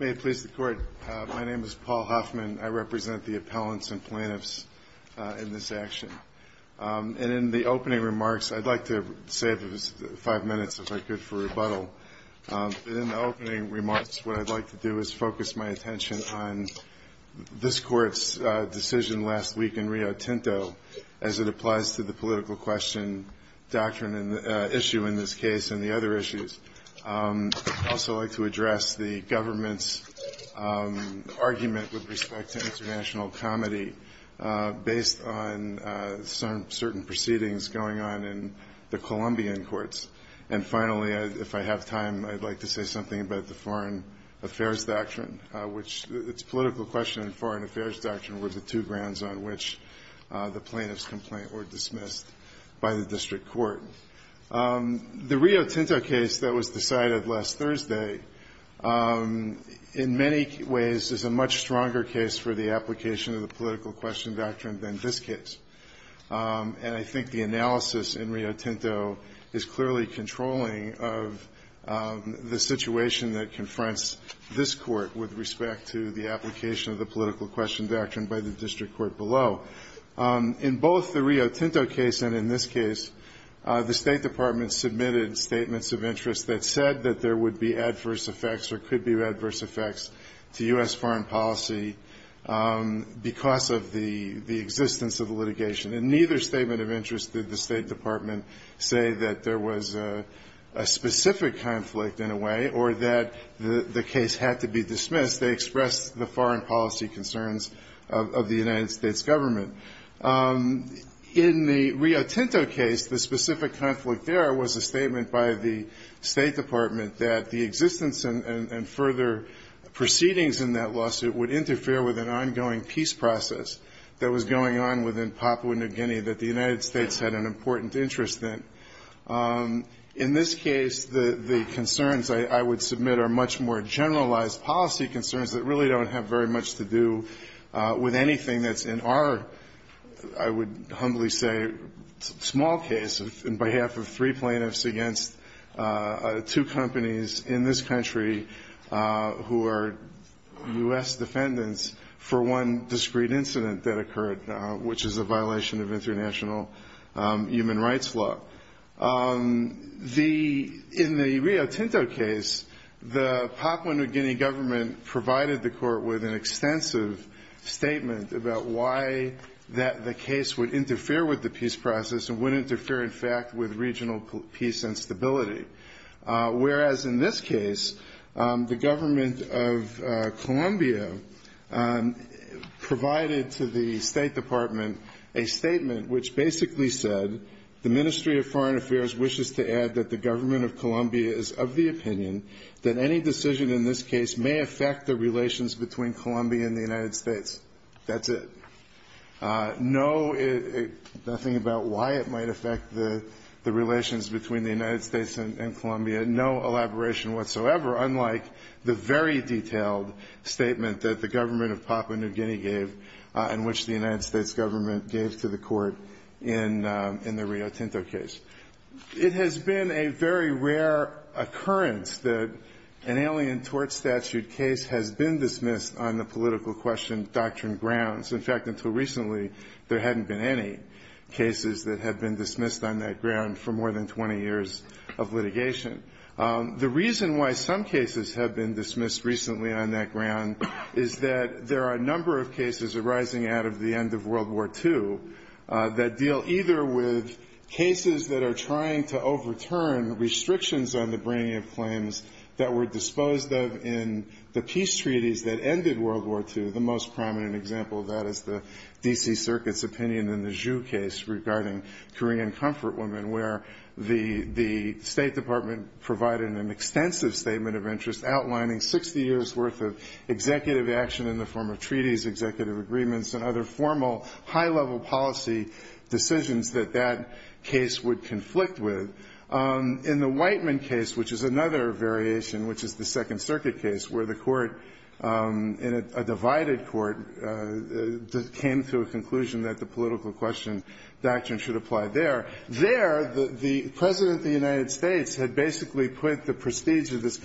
May it please the Court, my name is Paul Huffman, I represent the appellants and plaintiffs in this action. In the opening remarks, I'd like to focus my attention on this Court's decision last week in Rio Tinto as it applies to the political question issue in this case and the other issues. I'd also like to address the government's argument with respect to international comedy based on certain proceedings going on in the Colombian courts. And finally, if I have time, I'd like to say something about the Foreign Affairs Doctrine, which its political question and Foreign Affairs Doctrine were the two grounds on which the plaintiff's complaint were dismissed by the District Court. The Rio Tinto case that was decided last Thursday, in many ways, is a much stronger case for the application of the political question doctrine than this case. And I think the analysis in Rio Tinto is clearly controlling of the situation that confronts this Court with respect to the application of the political question doctrine by the District Court below. In both the Rio Tinto case and in this case, the State Department submitted statements of interest that said that there would be adverse effects or could be adverse effects to U.S. foreign policy because of the existence of the litigation. In neither statement of interest did the State Department say that there was a specific conflict in a way or that the case had to be dismissed. They expressed the foreign policy concerns of the United States government. In the Rio Tinto case, the specific conflict there was a statement by the State Department that the existence and further proceedings in that lawsuit would interfere with an ongoing peace process that was going on within Papua New Guinea that the United States had an important interest in. In this case, the concerns I would submit are much more generalized policy concerns that really don't have very much to do with anything that's in our, I would humbly say, small case on behalf of three plaintiffs against two companies in this country who are U.S. defendants for one discreet incident that occurred, which is a violation of international human rights law. In the Rio Tinto case, the Papua New Guinea government provided the court with an extensive statement about why the case would interfere with the peace process and would interfere, in fact, with regional peace and stability. Whereas in this case, the government of Colombia provided to the State Department a statement that the United States government gave to the court in the Rio Tinto case. It has been a very rare occurrence that an alien tort statute case has been dismissed on the political question doctrine grounds. In fact, until recently, there hadn't been any cases that had been dismissed on that ground for more than 20 years of litigation. The reason why some cases have been dismissed recently on that ground is that there are a number of cases arising out of the end of World War II that deal either with cases that are trying to overturn restrictions on the bringing of claims that were disposed of in the peace treaties that ended World War II. The most prominent example of that is the D.C. Circuit's opinion in the Zhu case regarding Korean comfort women, where the State Department provided an extensive statement of interest outlining 60 years' worth of treaties, executive agreements, and other formal, high-level policy decisions that that case would conflict with. In the Whiteman case, which is another variation, which is the Second Circuit case, where the court in a divided court came to a conclusion that the political question doctrine should apply there. There, the President of the United States had basically put the prestige of this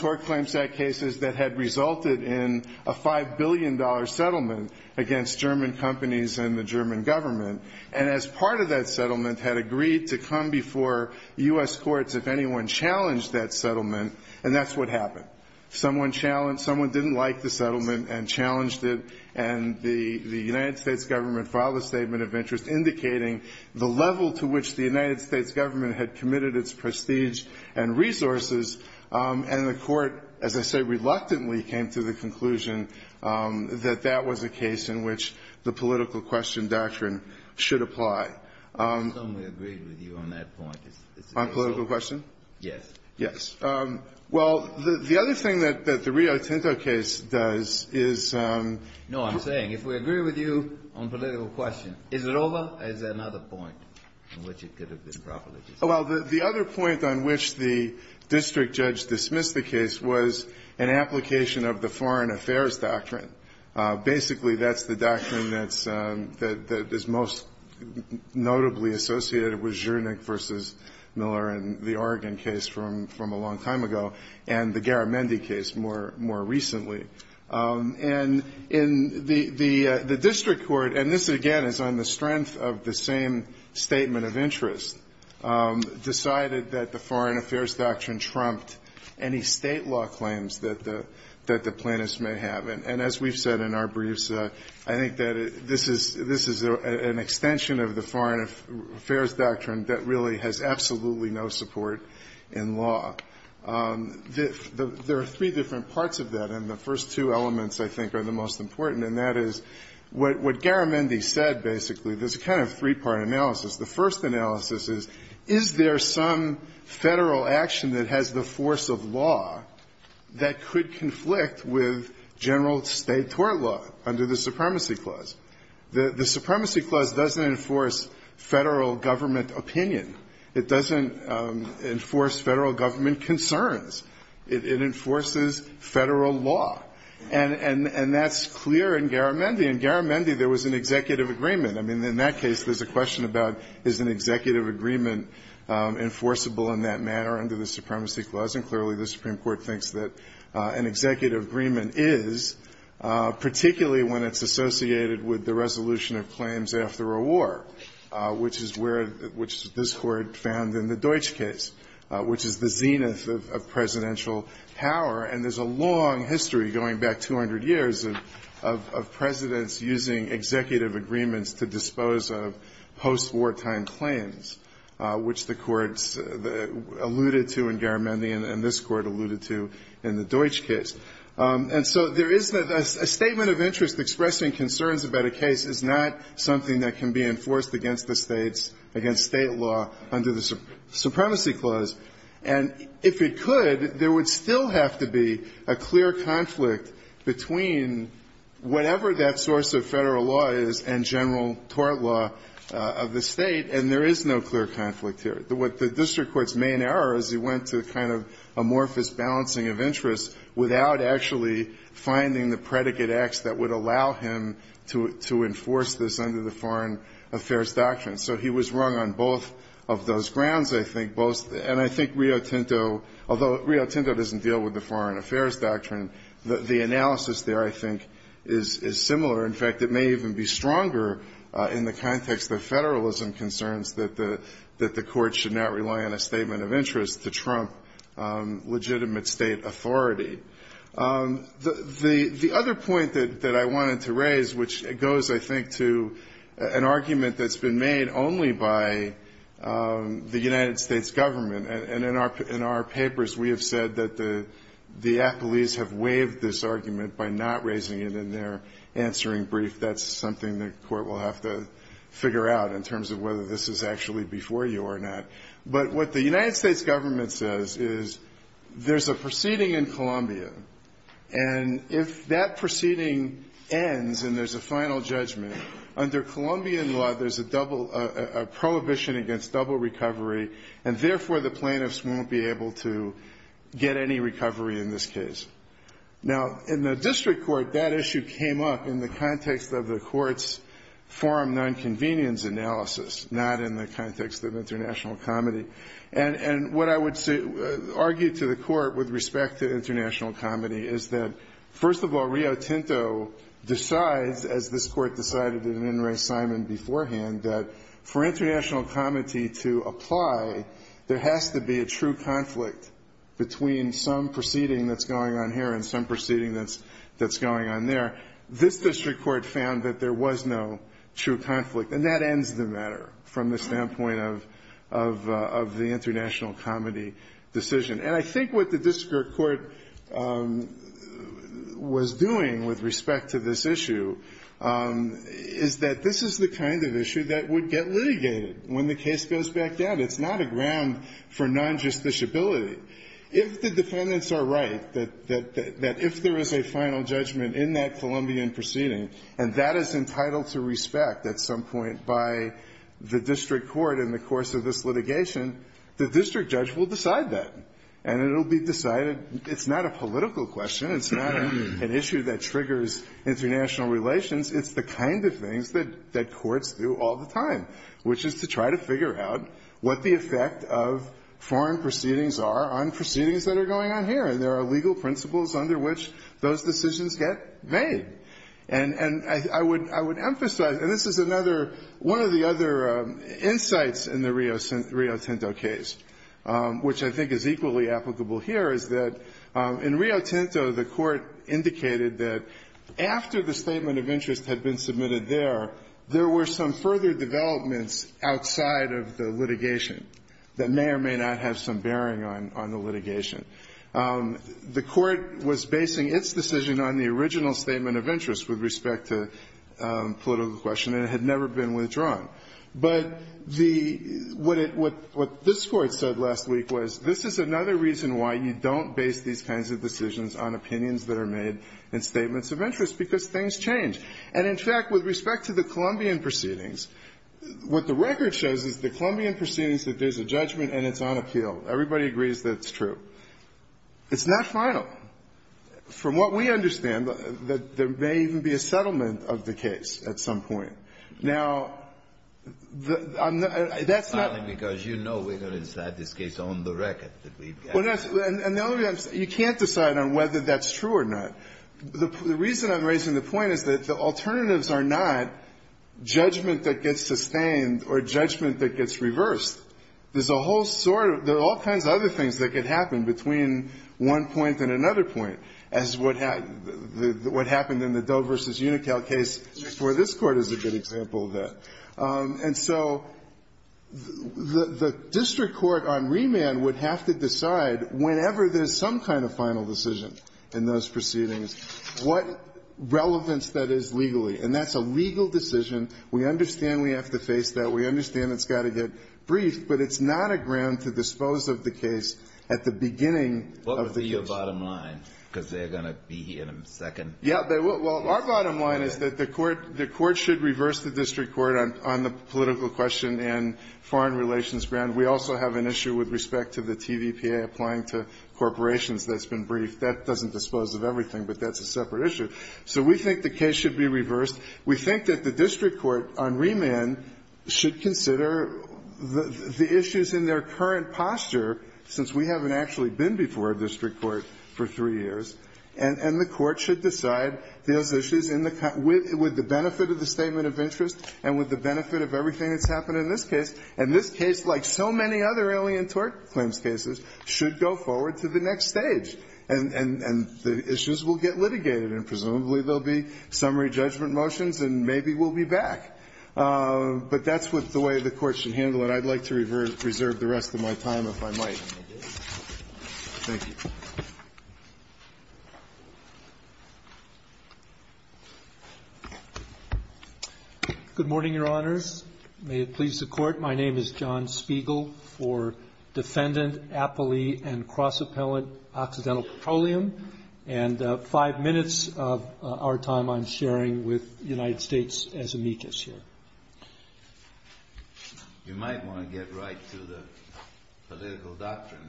court claim set cases that had resulted in a $5 billion settlement against German companies and the German government. And as part of that settlement had agreed to come before U.S. courts if anyone challenged that settlement. And that's what happened. Someone challenged, someone didn't like the settlement and challenged it. And the United States government filed a statement of interest indicating the level to which the United States government had committed its prestige and resources. And the court, as I say, reluctantly came to the conclusion that that was a case in which the political question doctrine should apply. And so we agree with you on that point. On political question? Yes. Yes. Well, the other thing that the Rio Tinto case does is no, I'm saying, if we agree with you on political question, is it over or is there another point in which it could have been properly discussed? Well, the other point on which the district judge dismissed the case was an application of the foreign affairs doctrine. Basically, that's the doctrine that is most notably associated with Zernick versus Miller and the Oregon case from a long time ago and the Garamendi case more recently. And in the district court, and this, again, is on the strength of the same statement of interest, decided that the foreign affairs doctrine trumped any state law claims that the plaintiffs may have. And as we've said in our briefs, I think that this is an extension of the foreign affairs doctrine that really has absolutely no support in law. There are three different parts of that. And the first two elements, I think, are the most important. And that is what Garamendi said, basically. There's a kind of three-part analysis. The first analysis is, is there some federal action that has the force of law that could conflict with general state tort law under the Supremacy Clause? The Supremacy Clause doesn't enforce federal government opinion. It doesn't enforce federal government concerns. It enforces federal law. And that's clear in Garamendi. In Garamendi, there was an executive agreement. I mean, in that case, there's a question about, is an executive agreement enforceable in that manner under the Supremacy Clause? And clearly, the Supreme Court thinks that an executive agreement is, particularly when it's associated with the resolution of claims after a war, which is where the – which this Court found in the Deutsch case, which is the zenith of presidential power. And there's a long history, going back 200 years, of presidents using executive agreements to dispose of post-war time claims, which the courts alluded to in Garamendi and this Court alluded to in the Deutsch case. And so there is a statement of interest expressing concerns about a case is not something that can be enforced against the states, against state law, under the Supremacy Clause. And if it could, there would still have to be a clear conflict between whatever that source of federal law is and general tort law of the state. And there is no clear conflict here. What the district court's main error is, he went to kind of amorphous balancing of interest without actually finding the predicate X that would allow him to enforce this under the Foreign Affairs Doctrine. So he was wrong on both of those grounds, I think. Both – and I think Rio Tinto – although Rio Tinto doesn't deal with the Foreign In fact, it may even be stronger in the context of federalism concerns that the court should not rely on a statement of interest to trump legitimate state authority. The other point that I wanted to raise, which goes, I think, to an argument that's been made only by the United States government – and in our papers, we have said that the appellees have waived this argument by not raising it in their answering brief. That's something the court will have to figure out in terms of whether this is actually before you or not. But what the United States government says is there's a proceeding in Columbia. And if that proceeding ends and there's a final judgment, under Colombian law, there's a double – a prohibition against double recovery, and therefore, the plaintiffs won't be able to get any recovery in this case. Now, in the district court, that issue came up in the context of the court's forum nonconvenience analysis, not in the context of international comedy. And what I would argue to the court with respect to international comedy is that, first of all, Rio Tinto decides, as this court decided in In re Assignment beforehand, that for international comedy to apply, there has to be a true conflict between some proceeding that's going on here and some proceeding that's going on there. This district court found that there was no true conflict. And that ends the matter from the standpoint of the international comedy decision. And I think what the district court was doing with respect to this issue is that this is the kind of issue that would get litigated when the case goes back down. It's not a ground for non-justiciability. If the defendants are right, that if there is a final judgment in that Colombian proceeding, and that is entitled to respect at some point by the district court in the course of this litigation, the district judge will decide that. And it will be decided – it's not a political question. It's not an issue that triggers international relations. It's the kind of things that courts do all the time, which is to try to figure out what the effect of foreign proceedings are on proceedings that are going on here. And there are legal principles under which those decisions get made. And I would emphasize – and this is another – one of the other insights in the Rio Tinto case, which I think is equally applicable here, is that in Rio Tinto, the court indicated that after the statement of interest had been submitted there, there were some further developments outside of the litigation that may or may not have some bearing on the litigation. The court was basing its decision on the original statement of interest with respect to political question, and it had never been withdrawn. But the – what it – what this Court said last week was, this is another reason why you don't base these kinds of decisions on opinions that are made in statements of interest, because things change. And, in fact, with respect to the Colombian proceedings, what the record shows is the Colombian proceedings that there's a judgment and it's on appeal. Everybody agrees that it's true. It's not final. From what we understand, there may even be a settlement of the case at some point. Now, the – that's not – And the other thing I'm – you can't decide on whether that's true or not. The reason I'm raising the point is that the alternatives are not judgment that gets sustained or judgment that gets reversed. There's a whole sort of – there are all kinds of other things that could happen between one point and another point, as what happened in the Doe v. Unical case, where this Court is a good example of that. And so the district court on remand would have to decide, whenever there's some kind of final decision in those proceedings, what relevance that is legally. And that's a legal decision. We understand we have to face that. We understand it's got to get briefed. But it's not a ground to dispose of the case at the beginning of the case. What would be your bottom line, because they're going to be here in a second? Yeah. Well, our bottom line is that the Court should reverse the district court on the political question and foreign relations ground. We also have an issue with respect to the TVPA applying to corporations that's been briefed. That doesn't dispose of everything, but that's a separate issue. So we think the case should be reversed. We think that the district court on remand should consider the issues in their current posture, since we haven't actually been before a district court for three years, and the Court should decide those issues with the benefit of the statement of interest and with the benefit of everything that's happened in this case. And this case, like so many other alien tort claims cases, should go forward to the next stage, and the issues will get litigated. And presumably, there'll be summary judgment motions, and maybe we'll be back. But that's the way the Court should handle it. I'd like to reserve the rest of my time, if I might. Thank you. Good morning, Your Honors. May it please the Court. My name is John Spiegel for Defendant, Appellee, and Cross-Appellant Occidental Petroleum, and five minutes of our time I'm sharing with United States as amicus here. You might want to get right to the political doctrine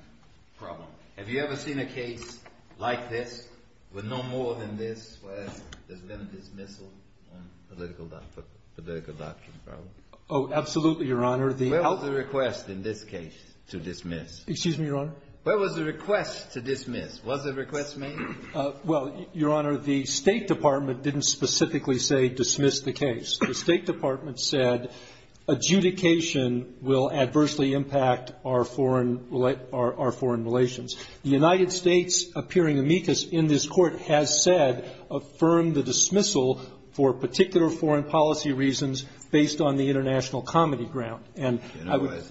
problem. Have you ever seen a case like this, with no more than this, where there's been a dismissal on political doctrine problem? Oh, absolutely, Your Honor. Where was the request in this case to dismiss? Excuse me, Your Honor? Where was the request to dismiss? Was the request made? Well, Your Honor, the State Department didn't specifically say dismiss the case. The State Department said adjudication will adversely impact our foreign relations. The United States, appearing amicus in this Court, has said, affirm the dismissal for particular foreign policy reasons based on the international comedy ground. And I would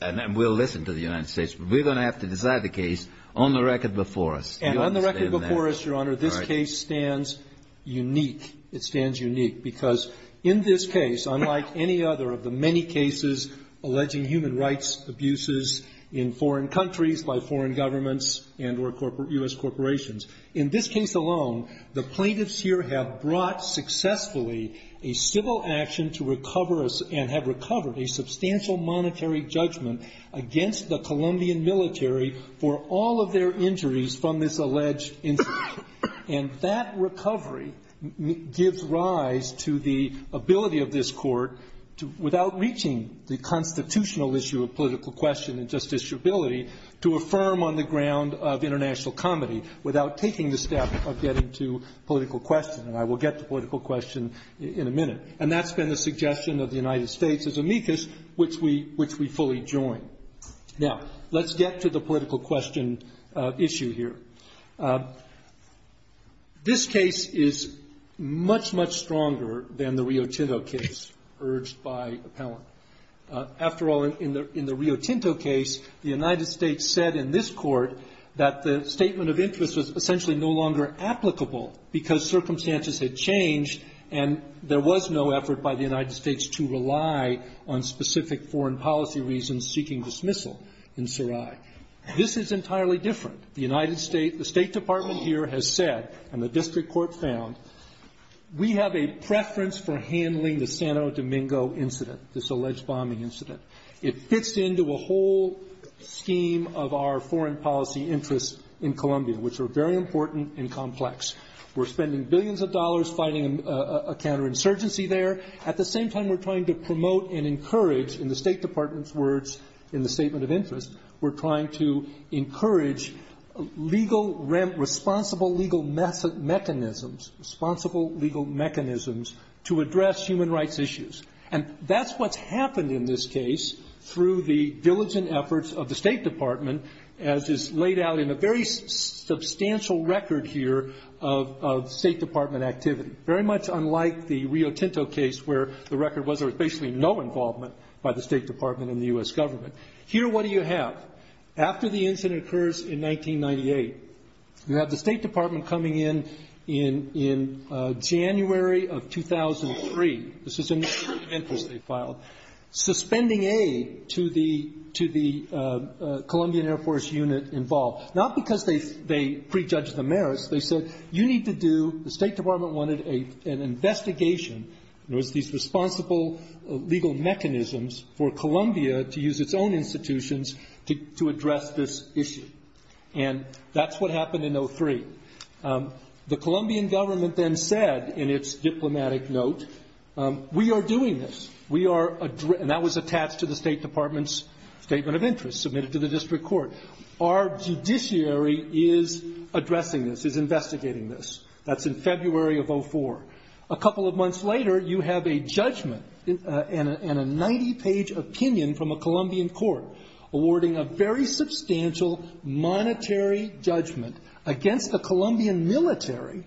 And we'll listen to the United States, but we're going to have to decide the case on the record before us. And on the record before us, Your Honor, this case stands unique. It stands unique because in this case, unlike any other of the many cases alleging human rights abuses in foreign countries by foreign governments and or U.S. corporations, in this case alone, the plaintiffs here have brought successfully a civil action to recover and have recovered a substantial monetary judgment against the Colombian military for all of their injuries from this alleged incident. And that recovery gives rise to the ability of this court, without reaching the constitutional issue of political question and justiciability, to affirm on the ground of international comedy without taking the step of getting to political question. And I will get to political question in a minute. And that's been the suggestion of the United States as amicus, which we fully join. Now, let's get to the political question issue here. This case is much, much stronger than the Rio Tinto case urged by appellant. After all, in the Rio Tinto case, the United States said in this court that the statement of interest was essentially no longer applicable because circumstances had changed and there was no effort by the United States to rely on specific foreign policy reasons seeking dismissal in Sarai. This is entirely different. The United States, the State Department here has said and the district court found, we have a preference for handling the Santo Domingo incident, this alleged bombing incident. It fits into a whole scheme of our foreign policy interests in Colombia, which are very important and complex. We're spending billions of dollars fighting a counterinsurgency there. At the same time, we're trying to promote and encourage, in the State Department's words, in the statement of interest, we're trying to encourage responsible legal mechanisms to address human rights issues. And that's what's happened in this case through the diligent efforts of the State Department, as is laid out in a very substantial record here of State Department activity, very much unlike the Rio Tinto case where the record was there was basically no involvement by the State Department and the US government. Here, what do you have? After the incident occurs in 1998, you have the State Department coming in January of 2003. This is in Memphis, they filed. Suspending aid to the Colombian Air Force unit involved. Not because they prejudged the merits. They said, you need to do, the State Department wanted an investigation. It was these responsible legal mechanisms for Colombia to use its own institutions to address this issue. And that's what happened in 03. The Colombian government then said in its diplomatic note, we are doing this. We are, and that was attached to the State Department's statement of interest, submitted to the district court. Our judiciary is addressing this, is investigating this. That's in February of 04. A couple of months later, you have a judgment and a 90-page opinion from a Colombian court awarding a very substantial monetary judgment against the Colombian military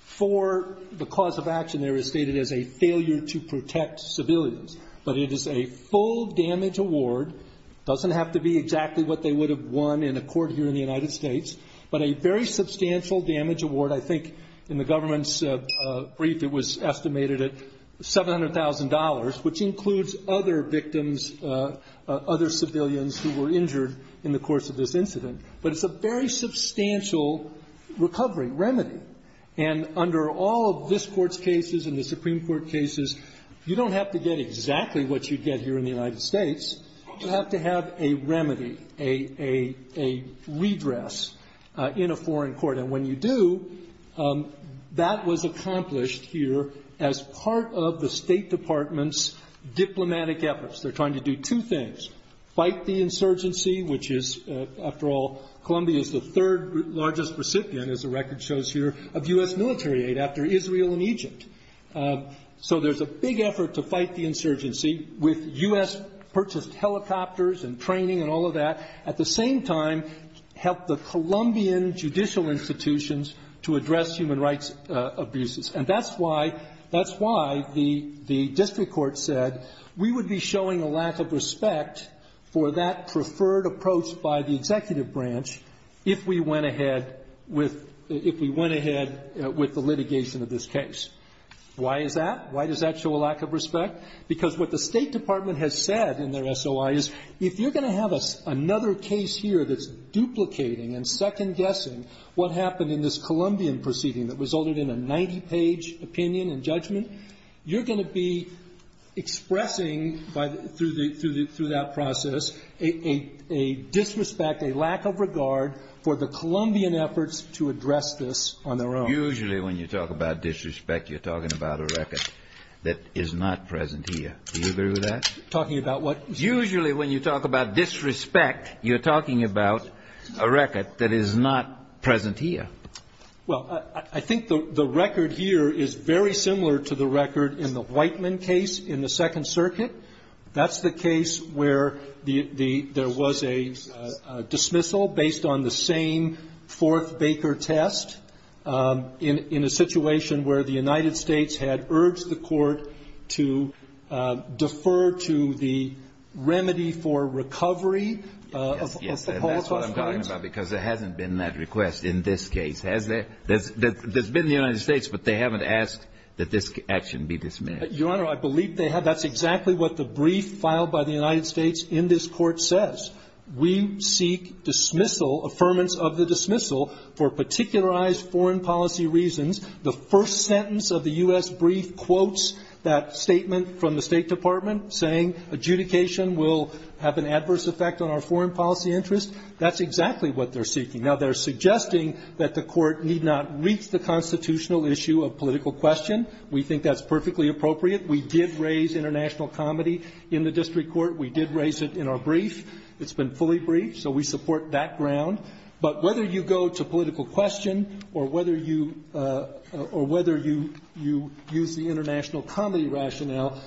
for the cause of action there is stated as a failure to protect civilians. But it is a full damage award. Doesn't have to be exactly what they would have won in a court here in the United States. But a very substantial damage award, I think in the government's brief, it was estimated at $700,000, which includes other victims, other civilians who were injured in the course of this incident. But it's a very substantial recovery, remedy. And under all of this court's cases and the Supreme Court cases, you don't have to get exactly what you get here in the United States. You have to have a remedy, a redress in a foreign court. And when you do, that was accomplished here as part of the State Department's diplomatic efforts. They're trying to do two things. Fight the insurgency, which is, after all, Colombia is the third largest recipient, as the record shows here, of U.S. military aid after Israel and Egypt. So there's a big effort to fight the insurgency with U.S. purchased helicopters and training and all of that. At the same time, help the Colombian judicial institutions to address human rights abuses, and that's why the district court said we would be showing a lack of respect for that preferred approach by the executive branch if we went ahead with the litigation of this case. Why is that? Why does that show a lack of respect? Because what the State Department has said in their SOI is, if you're going to have another case here that's duplicating and second-guessing what happened in this Colombian proceeding that resulted in a 90-page opinion and judgment, you're going to be expressing, through that process, a disrespect, a lack of regard for the Colombian efforts to address this on their own. Usually when you talk about disrespect, you're talking about a record that is not present here. Do you agree with that? Talking about what? Usually when you talk about disrespect, you're talking about a record that is not present here. Well, I think the record here is very similar to the record in the Whiteman case in the Second Circuit. That's the case where there was a dismissal based on the same fourth Baker test in a situation where the United States had urged the court to defer to the remedy for recovery of the Paul Tosca case. Yes, yes, and that's what I'm talking about, because there hasn't been that request in this case, has there? There's been in the United States, but they haven't asked that this action be dismissed. Your Honor, I believe they have. That's exactly what the brief filed by the United States in this court says. We seek dismissal, affirmance of the dismissal, for particularized foreign policy reasons. The first sentence of the U.S. brief quotes that statement from the State Department saying adjudication will have an adverse effect on our foreign policy interest. That's exactly what they're seeking. Now, they're suggesting that the court need not reach the constitutional issue of political question. We think that's perfectly appropriate. We did raise international comedy in the district court. We did raise it in our brief. It's been fully briefed, so we support that ground. But whether you go to political question or whether you use the international comedy rationale,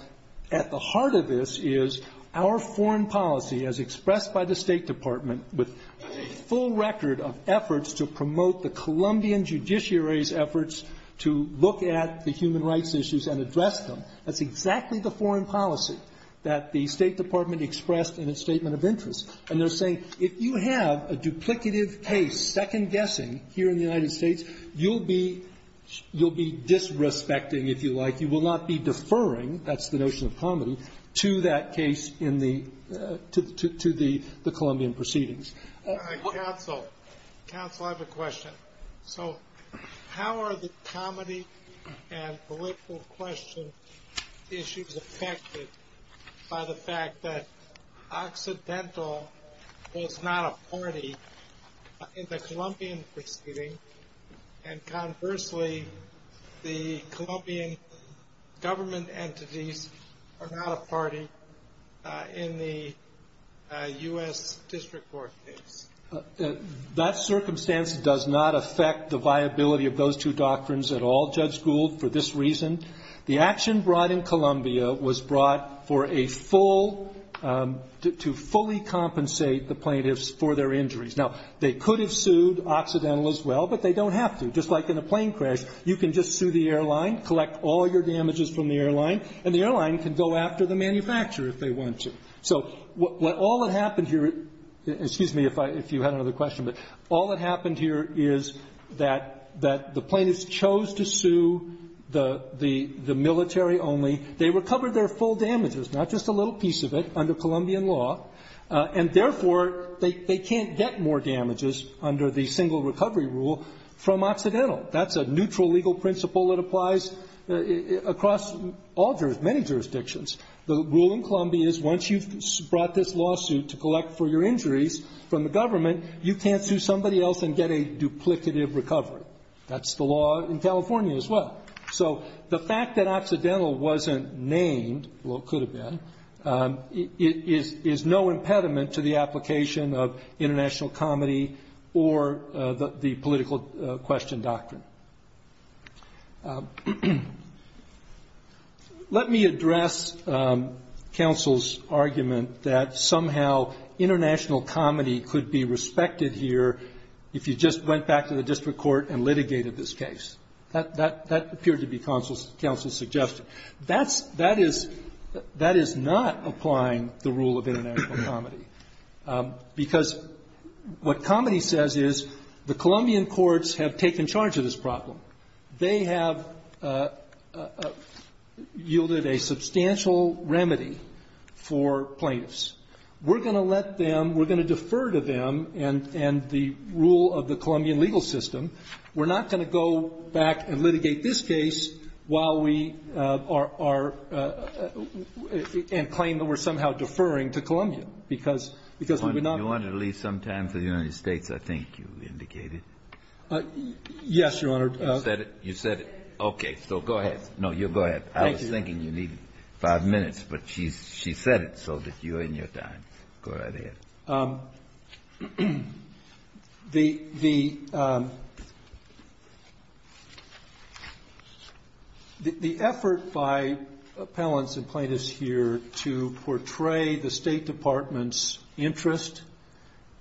at the heart of this is our foreign policy as expressed by the State Department with a full record of efforts to promote the Colombian judiciary's efforts to look at the human rights issues and address them. That's exactly the foreign policy that the State Department expressed in a statement of interest. And they're saying, if you have a duplicative case, second guessing, here in the United States, you'll be disrespecting, if you like. You will not be deferring, that's the notion of comedy, to that case in the, to the Colombian proceedings. Council, council, I have a question. So, how are the comedy and political question issues affected by the fact that Occidental is not a party in the Colombian proceeding. And conversely, the Colombian government entities are not a party in the US District Court case. That circumstance does not affect the viability of those two doctrines at all, Judge Gould, for this reason. The action brought in Colombia was brought for a full, to fully compensate the plaintiffs for their injuries. Now, they could have sued Occidental as well, but they don't have to. Just like in a plane crash, you can just sue the airline, collect all your damages from the airline. And the airline can go after the manufacturer if they want to. So, what, all that happened here, excuse me if I, if you had another question, but all that happened here is that, that the plaintiffs chose to sue the, the, the military only. They recovered their full damages, not just a little piece of it, under Colombian law, and therefore, they, they can't get more damages under the single recovery rule from Occidental. That's a neutral legal principle that applies across all jur, many jurisdictions. The rule in Colombia is once you've brought this lawsuit to collect for your injuries from the government, you can't sue somebody else and get a duplicative recovery. That's the law in California as well. So, the fact that Occidental wasn't named, well, it could have been, is, is, is no impediment to the application of international comedy or the, the political question doctrine. Let me address counsel's argument that somehow international comedy could be respected here if you just went back to the district court and litigated this case. That, that, that appeared to be counsel's, counsel's suggestion. That's, that is, that is not applying the rule of international comedy. Because what comedy says is the Colombian courts have taken charge of this problem. They have yielded a substantial remedy for plaintiffs. We're going to let them, we're going to defer to them and, and the rule of the Colombian legal system. We're not going to go back and litigate this case while we are, are and claim that we're somehow deferring to Colombia. Because, because we would not. You wanted to leave some time for the United States, I think you indicated. Yes, Your Honor. You said it, you said it. Okay, so go ahead. No, you go ahead. I was thinking you needed five minutes, but she, she said it so that you're in your time. Go right ahead. The, the, the, the effort by appellants and plaintiffs here to portray the State Department's interest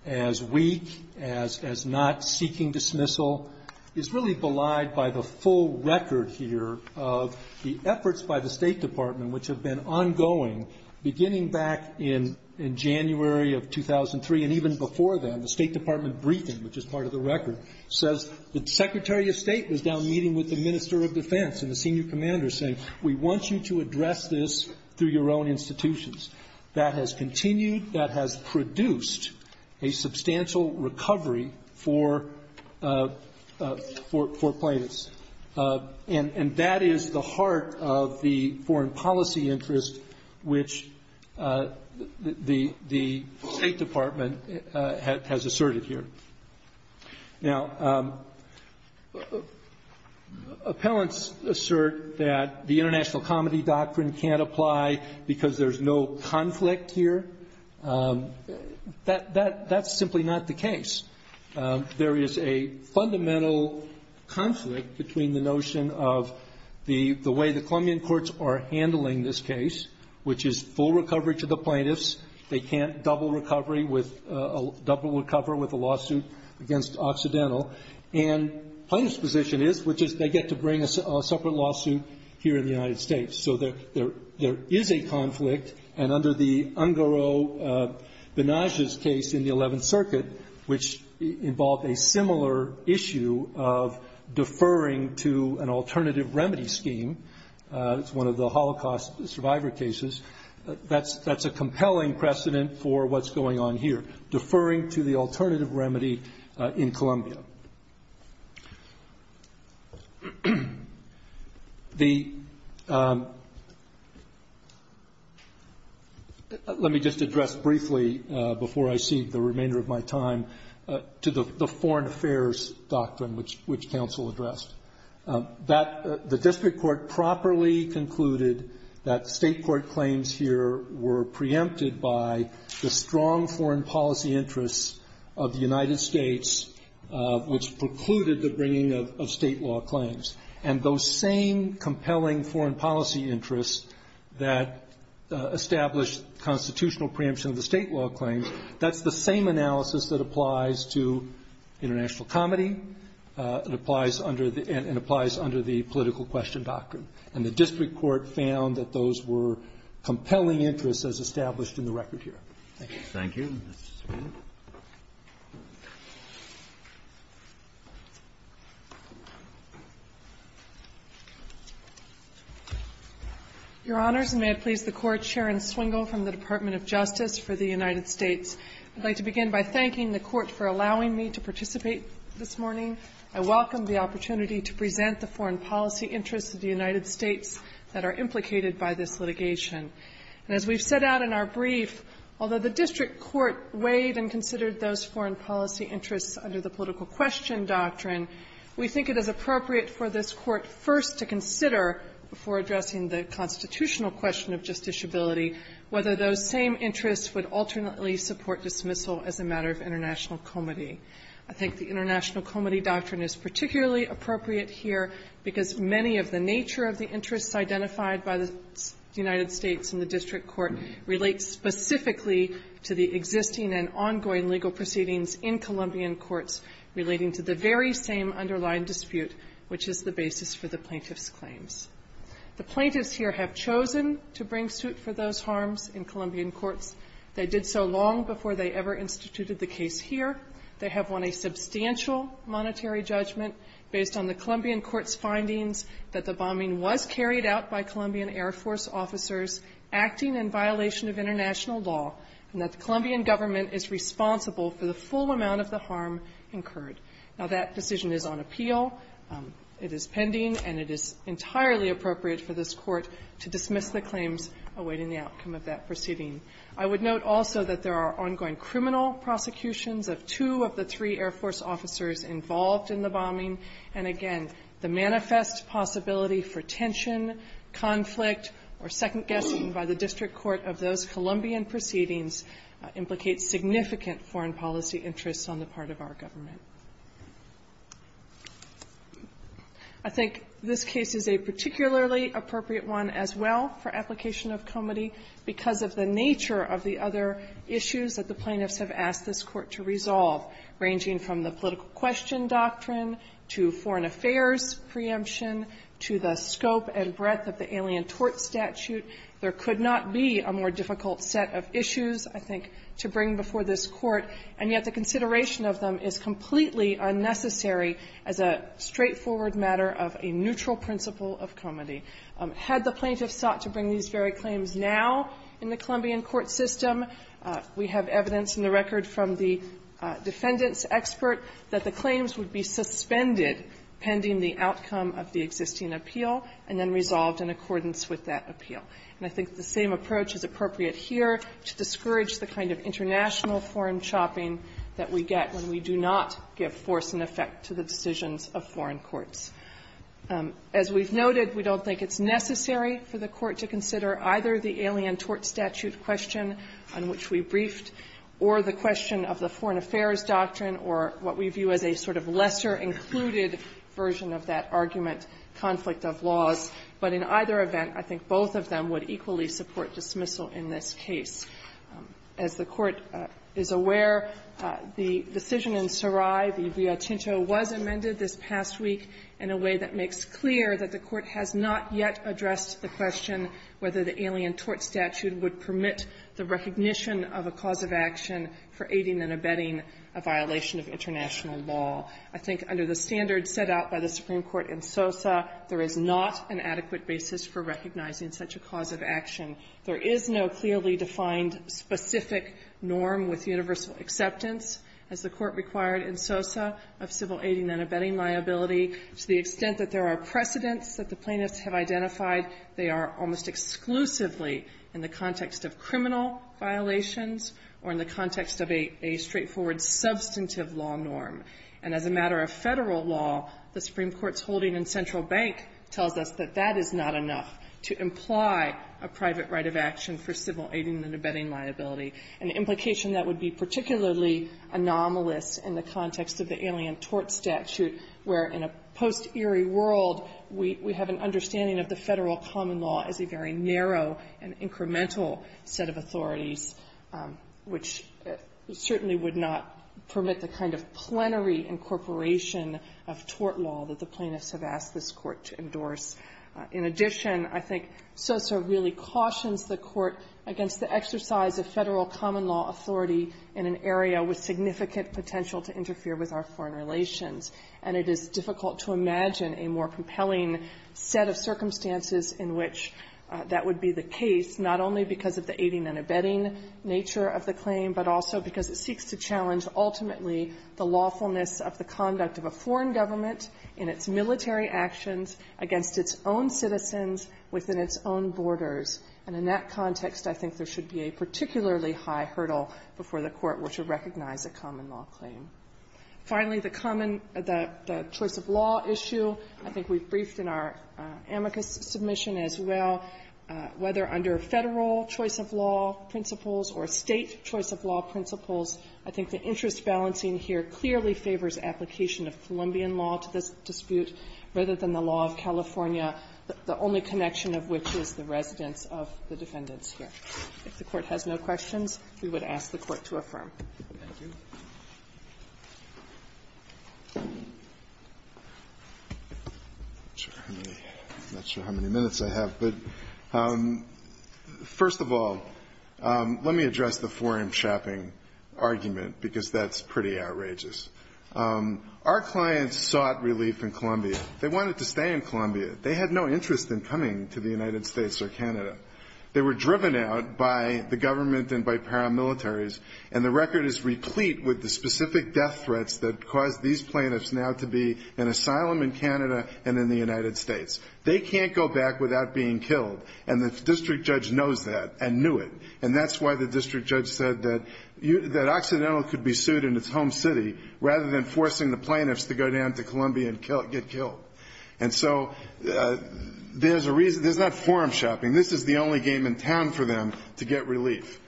as weak, as, as not seeking dismissal, is really belied by the full record here of the efforts by the State Department, which have been ongoing beginning back in, in January of 2003. And even before then, the State Department briefing, which is part of the record, says the Secretary of State was down meeting with the Minister of Defense and the Senior Commander saying, we want you to address this through your own institutions. That has continued, that has produced a substantial recovery for, for, for plaintiffs. And, and that is the heart of the foreign policy interest, which the, the State Department has, has asserted here. Now, appellants assert that the international comedy doctrine can't apply because there's no conflict here. That, that, that's simply not the case. There is a fundamental conflict between the notion of the, the way the Columbian courts are handling this case, which is full recovery to the plaintiffs, they can't double recovery with a, double recover with a lawsuit against Occidental. And plaintiff's position is, which is they get to bring a separate lawsuit here in the United States. So there, there, there is a conflict. And under the Ungaro-Benajez case in the 11th Circuit, which involved a similar issue of deferring to an alternative remedy scheme. It's one of the Holocaust survivor cases. That's, that's a compelling precedent for what's going on here. Deferring to the alternative remedy in Columbia. The, let me just address briefly before I cede the remainder of my time. To the, the foreign affairs doctrine, which, which counsel addressed. That the district court properly concluded that state court claims here were preempted by the strong foreign policy interests of the United States. Which precluded the bringing of, of state law claims. And those same compelling foreign policy interests that established constitutional preemption of the state law claims. That's the same analysis that applies to international comedy. It applies under the, and, and applies under the political question doctrine. And the district court found that those were compelling interests as established in the record here. Thank you. Thank you. Your honors, and may it please the court. Sharon Swingle from the Department of Justice for the United States. I'd like to begin by thanking the court for allowing me to participate this morning. I welcome the opportunity to present the foreign policy interests of the United States that are implicated by this litigation. And as we've set out in our brief, although the district court weighed and considered those foreign policy interests under the political question doctrine. We think it is appropriate for this court first to consider, before addressing the constitutional question of justiciability, whether those same interests would alternately support dismissal as a matter of international comedy. I think the international comedy doctrine is particularly appropriate here because many of the nature of the interests identified by the United States in the district court relate specifically to the existing and ongoing legal proceedings in Colombian courts relating to the very same underlying dispute, which is the basis for the plaintiff's claims. The plaintiffs here have chosen to bring suit for those foreign policy interests that have caused harms in Colombian courts. They did so long before they ever instituted the case here. They have won a substantial monetary judgment based on the Colombian court's findings that the bombing was carried out by Colombian Air Force officers acting in violation of international law, and that the Colombian government is responsible for the full amount of the harm incurred. Now, that decision is on appeal. It is pending, and it is entirely appropriate for this court to dismiss the claims awaiting the outcome of that proceeding. I would note also that there are ongoing criminal prosecutions of two of the three Air Force officers involved in the bombing. And again, the manifest possibility for tension, conflict, or second-guessing by the district court of those Colombian proceedings implicates significant foreign policy interests on the part of our government. I think this case is a particularly appropriate one as well for application of comity because of the nature of the other issues that the plaintiffs have asked this Court to resolve, ranging from the political question doctrine to foreign affairs preemption to the scope and breadth of the alien tort statute. There could not be a more difficult set of issues, I think, to bring before this Court, and yet the consideration of them is completely unnecessary as a straightforward matter of a neutral principle of comity. Had the plaintiffs sought to bring these very claims now in the Colombian court system, we have evidence in the record from the defendant's expert that the claims would be suspended pending the outcome of the existing appeal, and then resolved in accordance with that appeal. And I think the same approach is appropriate here to discourage the kind of international foreign chopping that we get when we do not give force and effect to the decisions of foreign courts. As we've noted, we don't think it's necessary for the Court to consider either the alien tort statute question on which we briefed or the question of the foreign affairs doctrine or what we view as a sort of lesser included version of that dismissal in this case. As the Court is aware, the decision in Sarai, the vía chincho, was amended this past week in a way that makes clear that the Court has not yet addressed the question whether the alien tort statute would permit the recognition of a cause of action for aiding and abetting a violation of international law. I think under the standards set out by the Supreme Court in Sosa, there is not an adequate basis for recognizing such a cause of action. There is no clearly defined specific norm with universal acceptance, as the Court required in Sosa, of civil aiding and abetting liability. To the extent that there are precedents that the plaintiffs have identified, they are almost exclusively in the context of criminal violations or in the context of a straightforward substantive law norm. And as a matter of Federal law, the Supreme Court's holding in Central Bank tells us that that is not enough to imply a private right of action for civil aiding and abetting liability, an implication that would be particularly anomalous in the context of the alien tort statute, where in a post-eerie world, we have an understanding of the Federal common law as a very narrow and incremental set of authorities, which certainly would not permit the kind of plenary incorporation of the federal law in the context of tort law that the plaintiffs have asked this Court to endorse. In addition, I think Sosa really cautions the Court against the exercise of Federal common law authority in an area with significant potential to interfere with our foreign relations. And it is difficult to imagine a more compelling set of circumstances in which that would be the case, not only because of the aiding and abetting nature of the claim, but also because it seeks to challenge ultimately the lawfulness of the conduct of a foreign government in its military actions against its own citizens within its own borders. And in that context, I think there should be a particularly high hurdle before the Court were to recognize a common law claim. Finally, the common the choice of law issue, I think we've briefed in our amicus submission as well, whether under Federal choice of law principles or State choice of law principles, I think the interest balancing here clearly favors application of Columbian law to this dispute rather than the law of California, the only connection of which is the residence of the defendants here. If the Court has no questions, we would ask the Court to affirm. Roberts. I'm not sure how many minutes I have, but first of all, let me address the 4M Chapping argument, because that's pretty outrageous. Our clients sought relief in Columbia. They wanted to stay in Columbia. They had no interest in coming to the United States or Canada. They were driven out by the government and by paramilitaries, and the record is replete with the specific death threats that caused these plaintiffs now to be in asylum in Canada and in the United States. They can't go back without being killed, and the district judge knows that and knew it. And that's why the Occidental could be sued in its home city rather than forcing the plaintiffs to go down to Columbia and get killed. And so there's a reason. There's not 4M Chopping. This is the only game in town for them to get relief.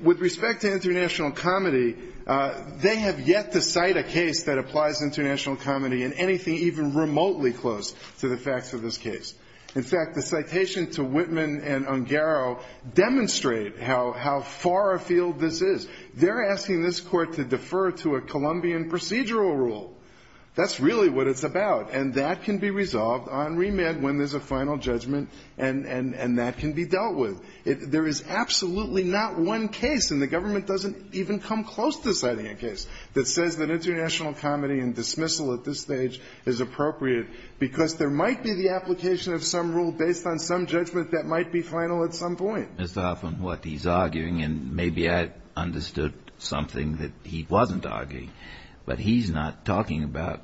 With respect to international comedy, they have yet to cite a case that applies international comedy in anything even remotely close to the facts of this case. In fact, the citation to Whitman and Ungaro demonstrate how far afield this is. They're asking this court to defer to a Colombian procedural rule. That's really what it's about, and that can be resolved on remit when there's a final judgment, and that can be dealt with. There is absolutely not one case, and the government doesn't even come close to citing a case, that says that international comedy and dismissal at this stage is appropriate because there might be the application of some rule based on some judgment that might be final at some point. Mr. Hoffman, what he's arguing, and maybe I understood something that he wasn't arguing, but he's not talking about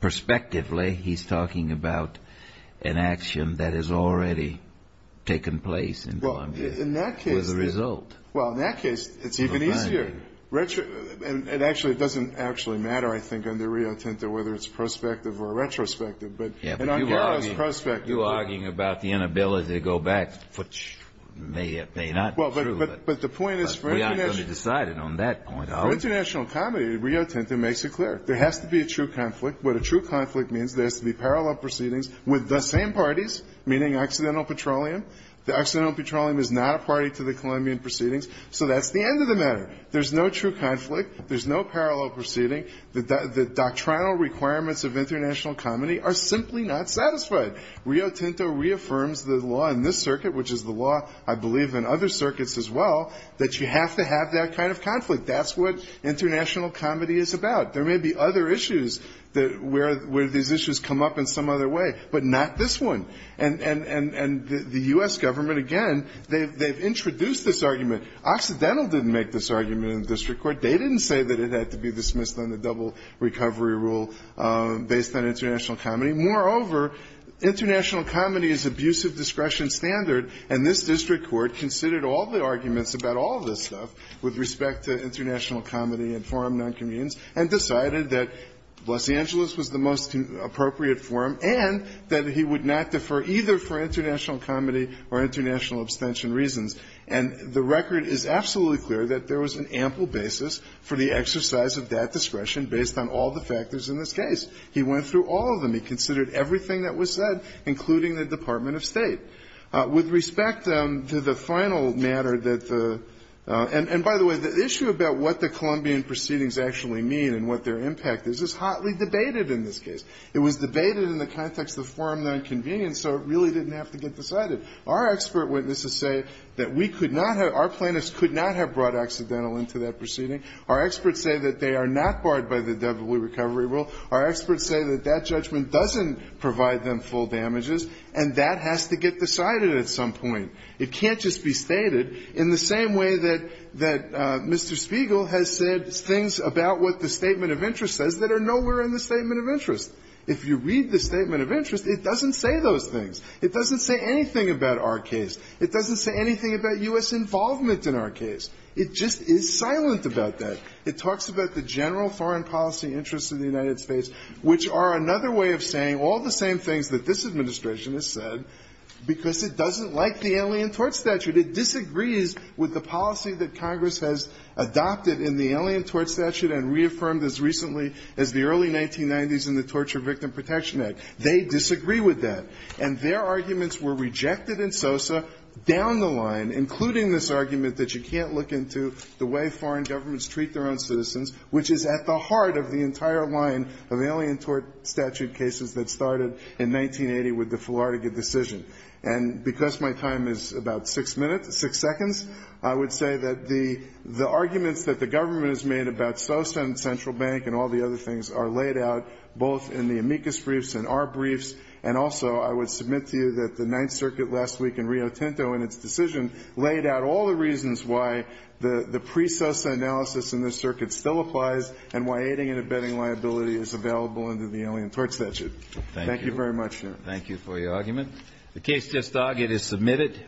perspectively. He's talking about an action that has already taken place in Columbia with a result. Well, in that case, it's even easier. And actually, it doesn't actually matter, I think, under Rio Tinto whether it's prospective or retrospective. But in Ungaro's perspective you're arguing about the inability to go back, which may or may not be true, but we aren't going to decide it on that point. For international comedy, Rio Tinto makes it clear. There has to be a true conflict. What a true conflict means, there has to be parallel proceedings with the same parties, meaning Occidental Petroleum. The Occidental Petroleum is not a party to the Colombian proceedings, so that's the end of the matter. There's no true conflict. There's no parallel proceeding. The doctrinal requirements of international comedy are simply not satisfied. Rio Tinto reaffirms the law in this circuit, which is the law, I believe, in other circuits as well, that you have to have that kind of conflict. That's what international comedy is about. There may be other issues where these issues come up in some other way, but not this one. And the U.S. government, again, they've introduced this argument. Occidental didn't make this argument in the district court. They didn't say that it had to be dismissed on the basis of international comedy. Moreover, international comedy is abusive discretion standard, and this district court considered all the arguments about all of this stuff with respect to international comedy and forum non-convenience and decided that Los Angeles was the most appropriate forum and that he would not defer either for international comedy or international abstention reasons. And the record is absolutely clear that there was an ample basis for the exercise of that discretion based on all the factors in this case. He went through all of them. He considered everything that was said, including the Department of State. With respect to the final matter that the – and by the way, the issue about what the Columbian proceedings actually mean and what their impact is is hotly debated in this case. It was debated in the context of forum non-convenience, so it really didn't have to get decided. Our expert witnesses say that we could not have – our plaintiffs could not have brought accidental into that proceeding. Our experts say that they are not barred by the devilry recovery rule. Our experts say that that judgment doesn't provide them full damages, and that has to get decided at some point. It can't just be stated in the same way that Mr. Spiegel has said things about what the statement of interest says that are nowhere in the statement of interest. If you read the statement of interest, it doesn't say those things. It doesn't say anything about our case. It doesn't say anything about U.S. involvement in our case. It just is silent about that. It talks about the general foreign policy interests of the United States, which are another way of saying all the same things that this Administration has said, because it doesn't like the Alien Tort Statute. It disagrees with the policy that Congress has adopted in the Alien Tort Statute and reaffirmed as recently as the early 1990s in the Torture Victim Protection Act. They disagree with that. And their arguments were rejected in SOSA, down the line, including this argument that you can't look into the way foreign governments treat their own citizens, which is at the heart of the entire line of Alien Tort Statute cases that started in 1980 with the Fulardiga decision. And because my time is about six minutes, six seconds, I would say that the arguments that the government has made about SOSA and Central Bank and all the other things are laid out both in the amicus briefs and our briefs, and also I would submit to you that the Ninth Circuit last week in Rio Tinto in its decision laid out all the reasons why the pre-SOSA analysis in this circuit still applies and why aiding and abetting liability is available under the Alien Tort Statute. Thank you very much, Your Honor. Thank you for your argument. The case just argued is submitted.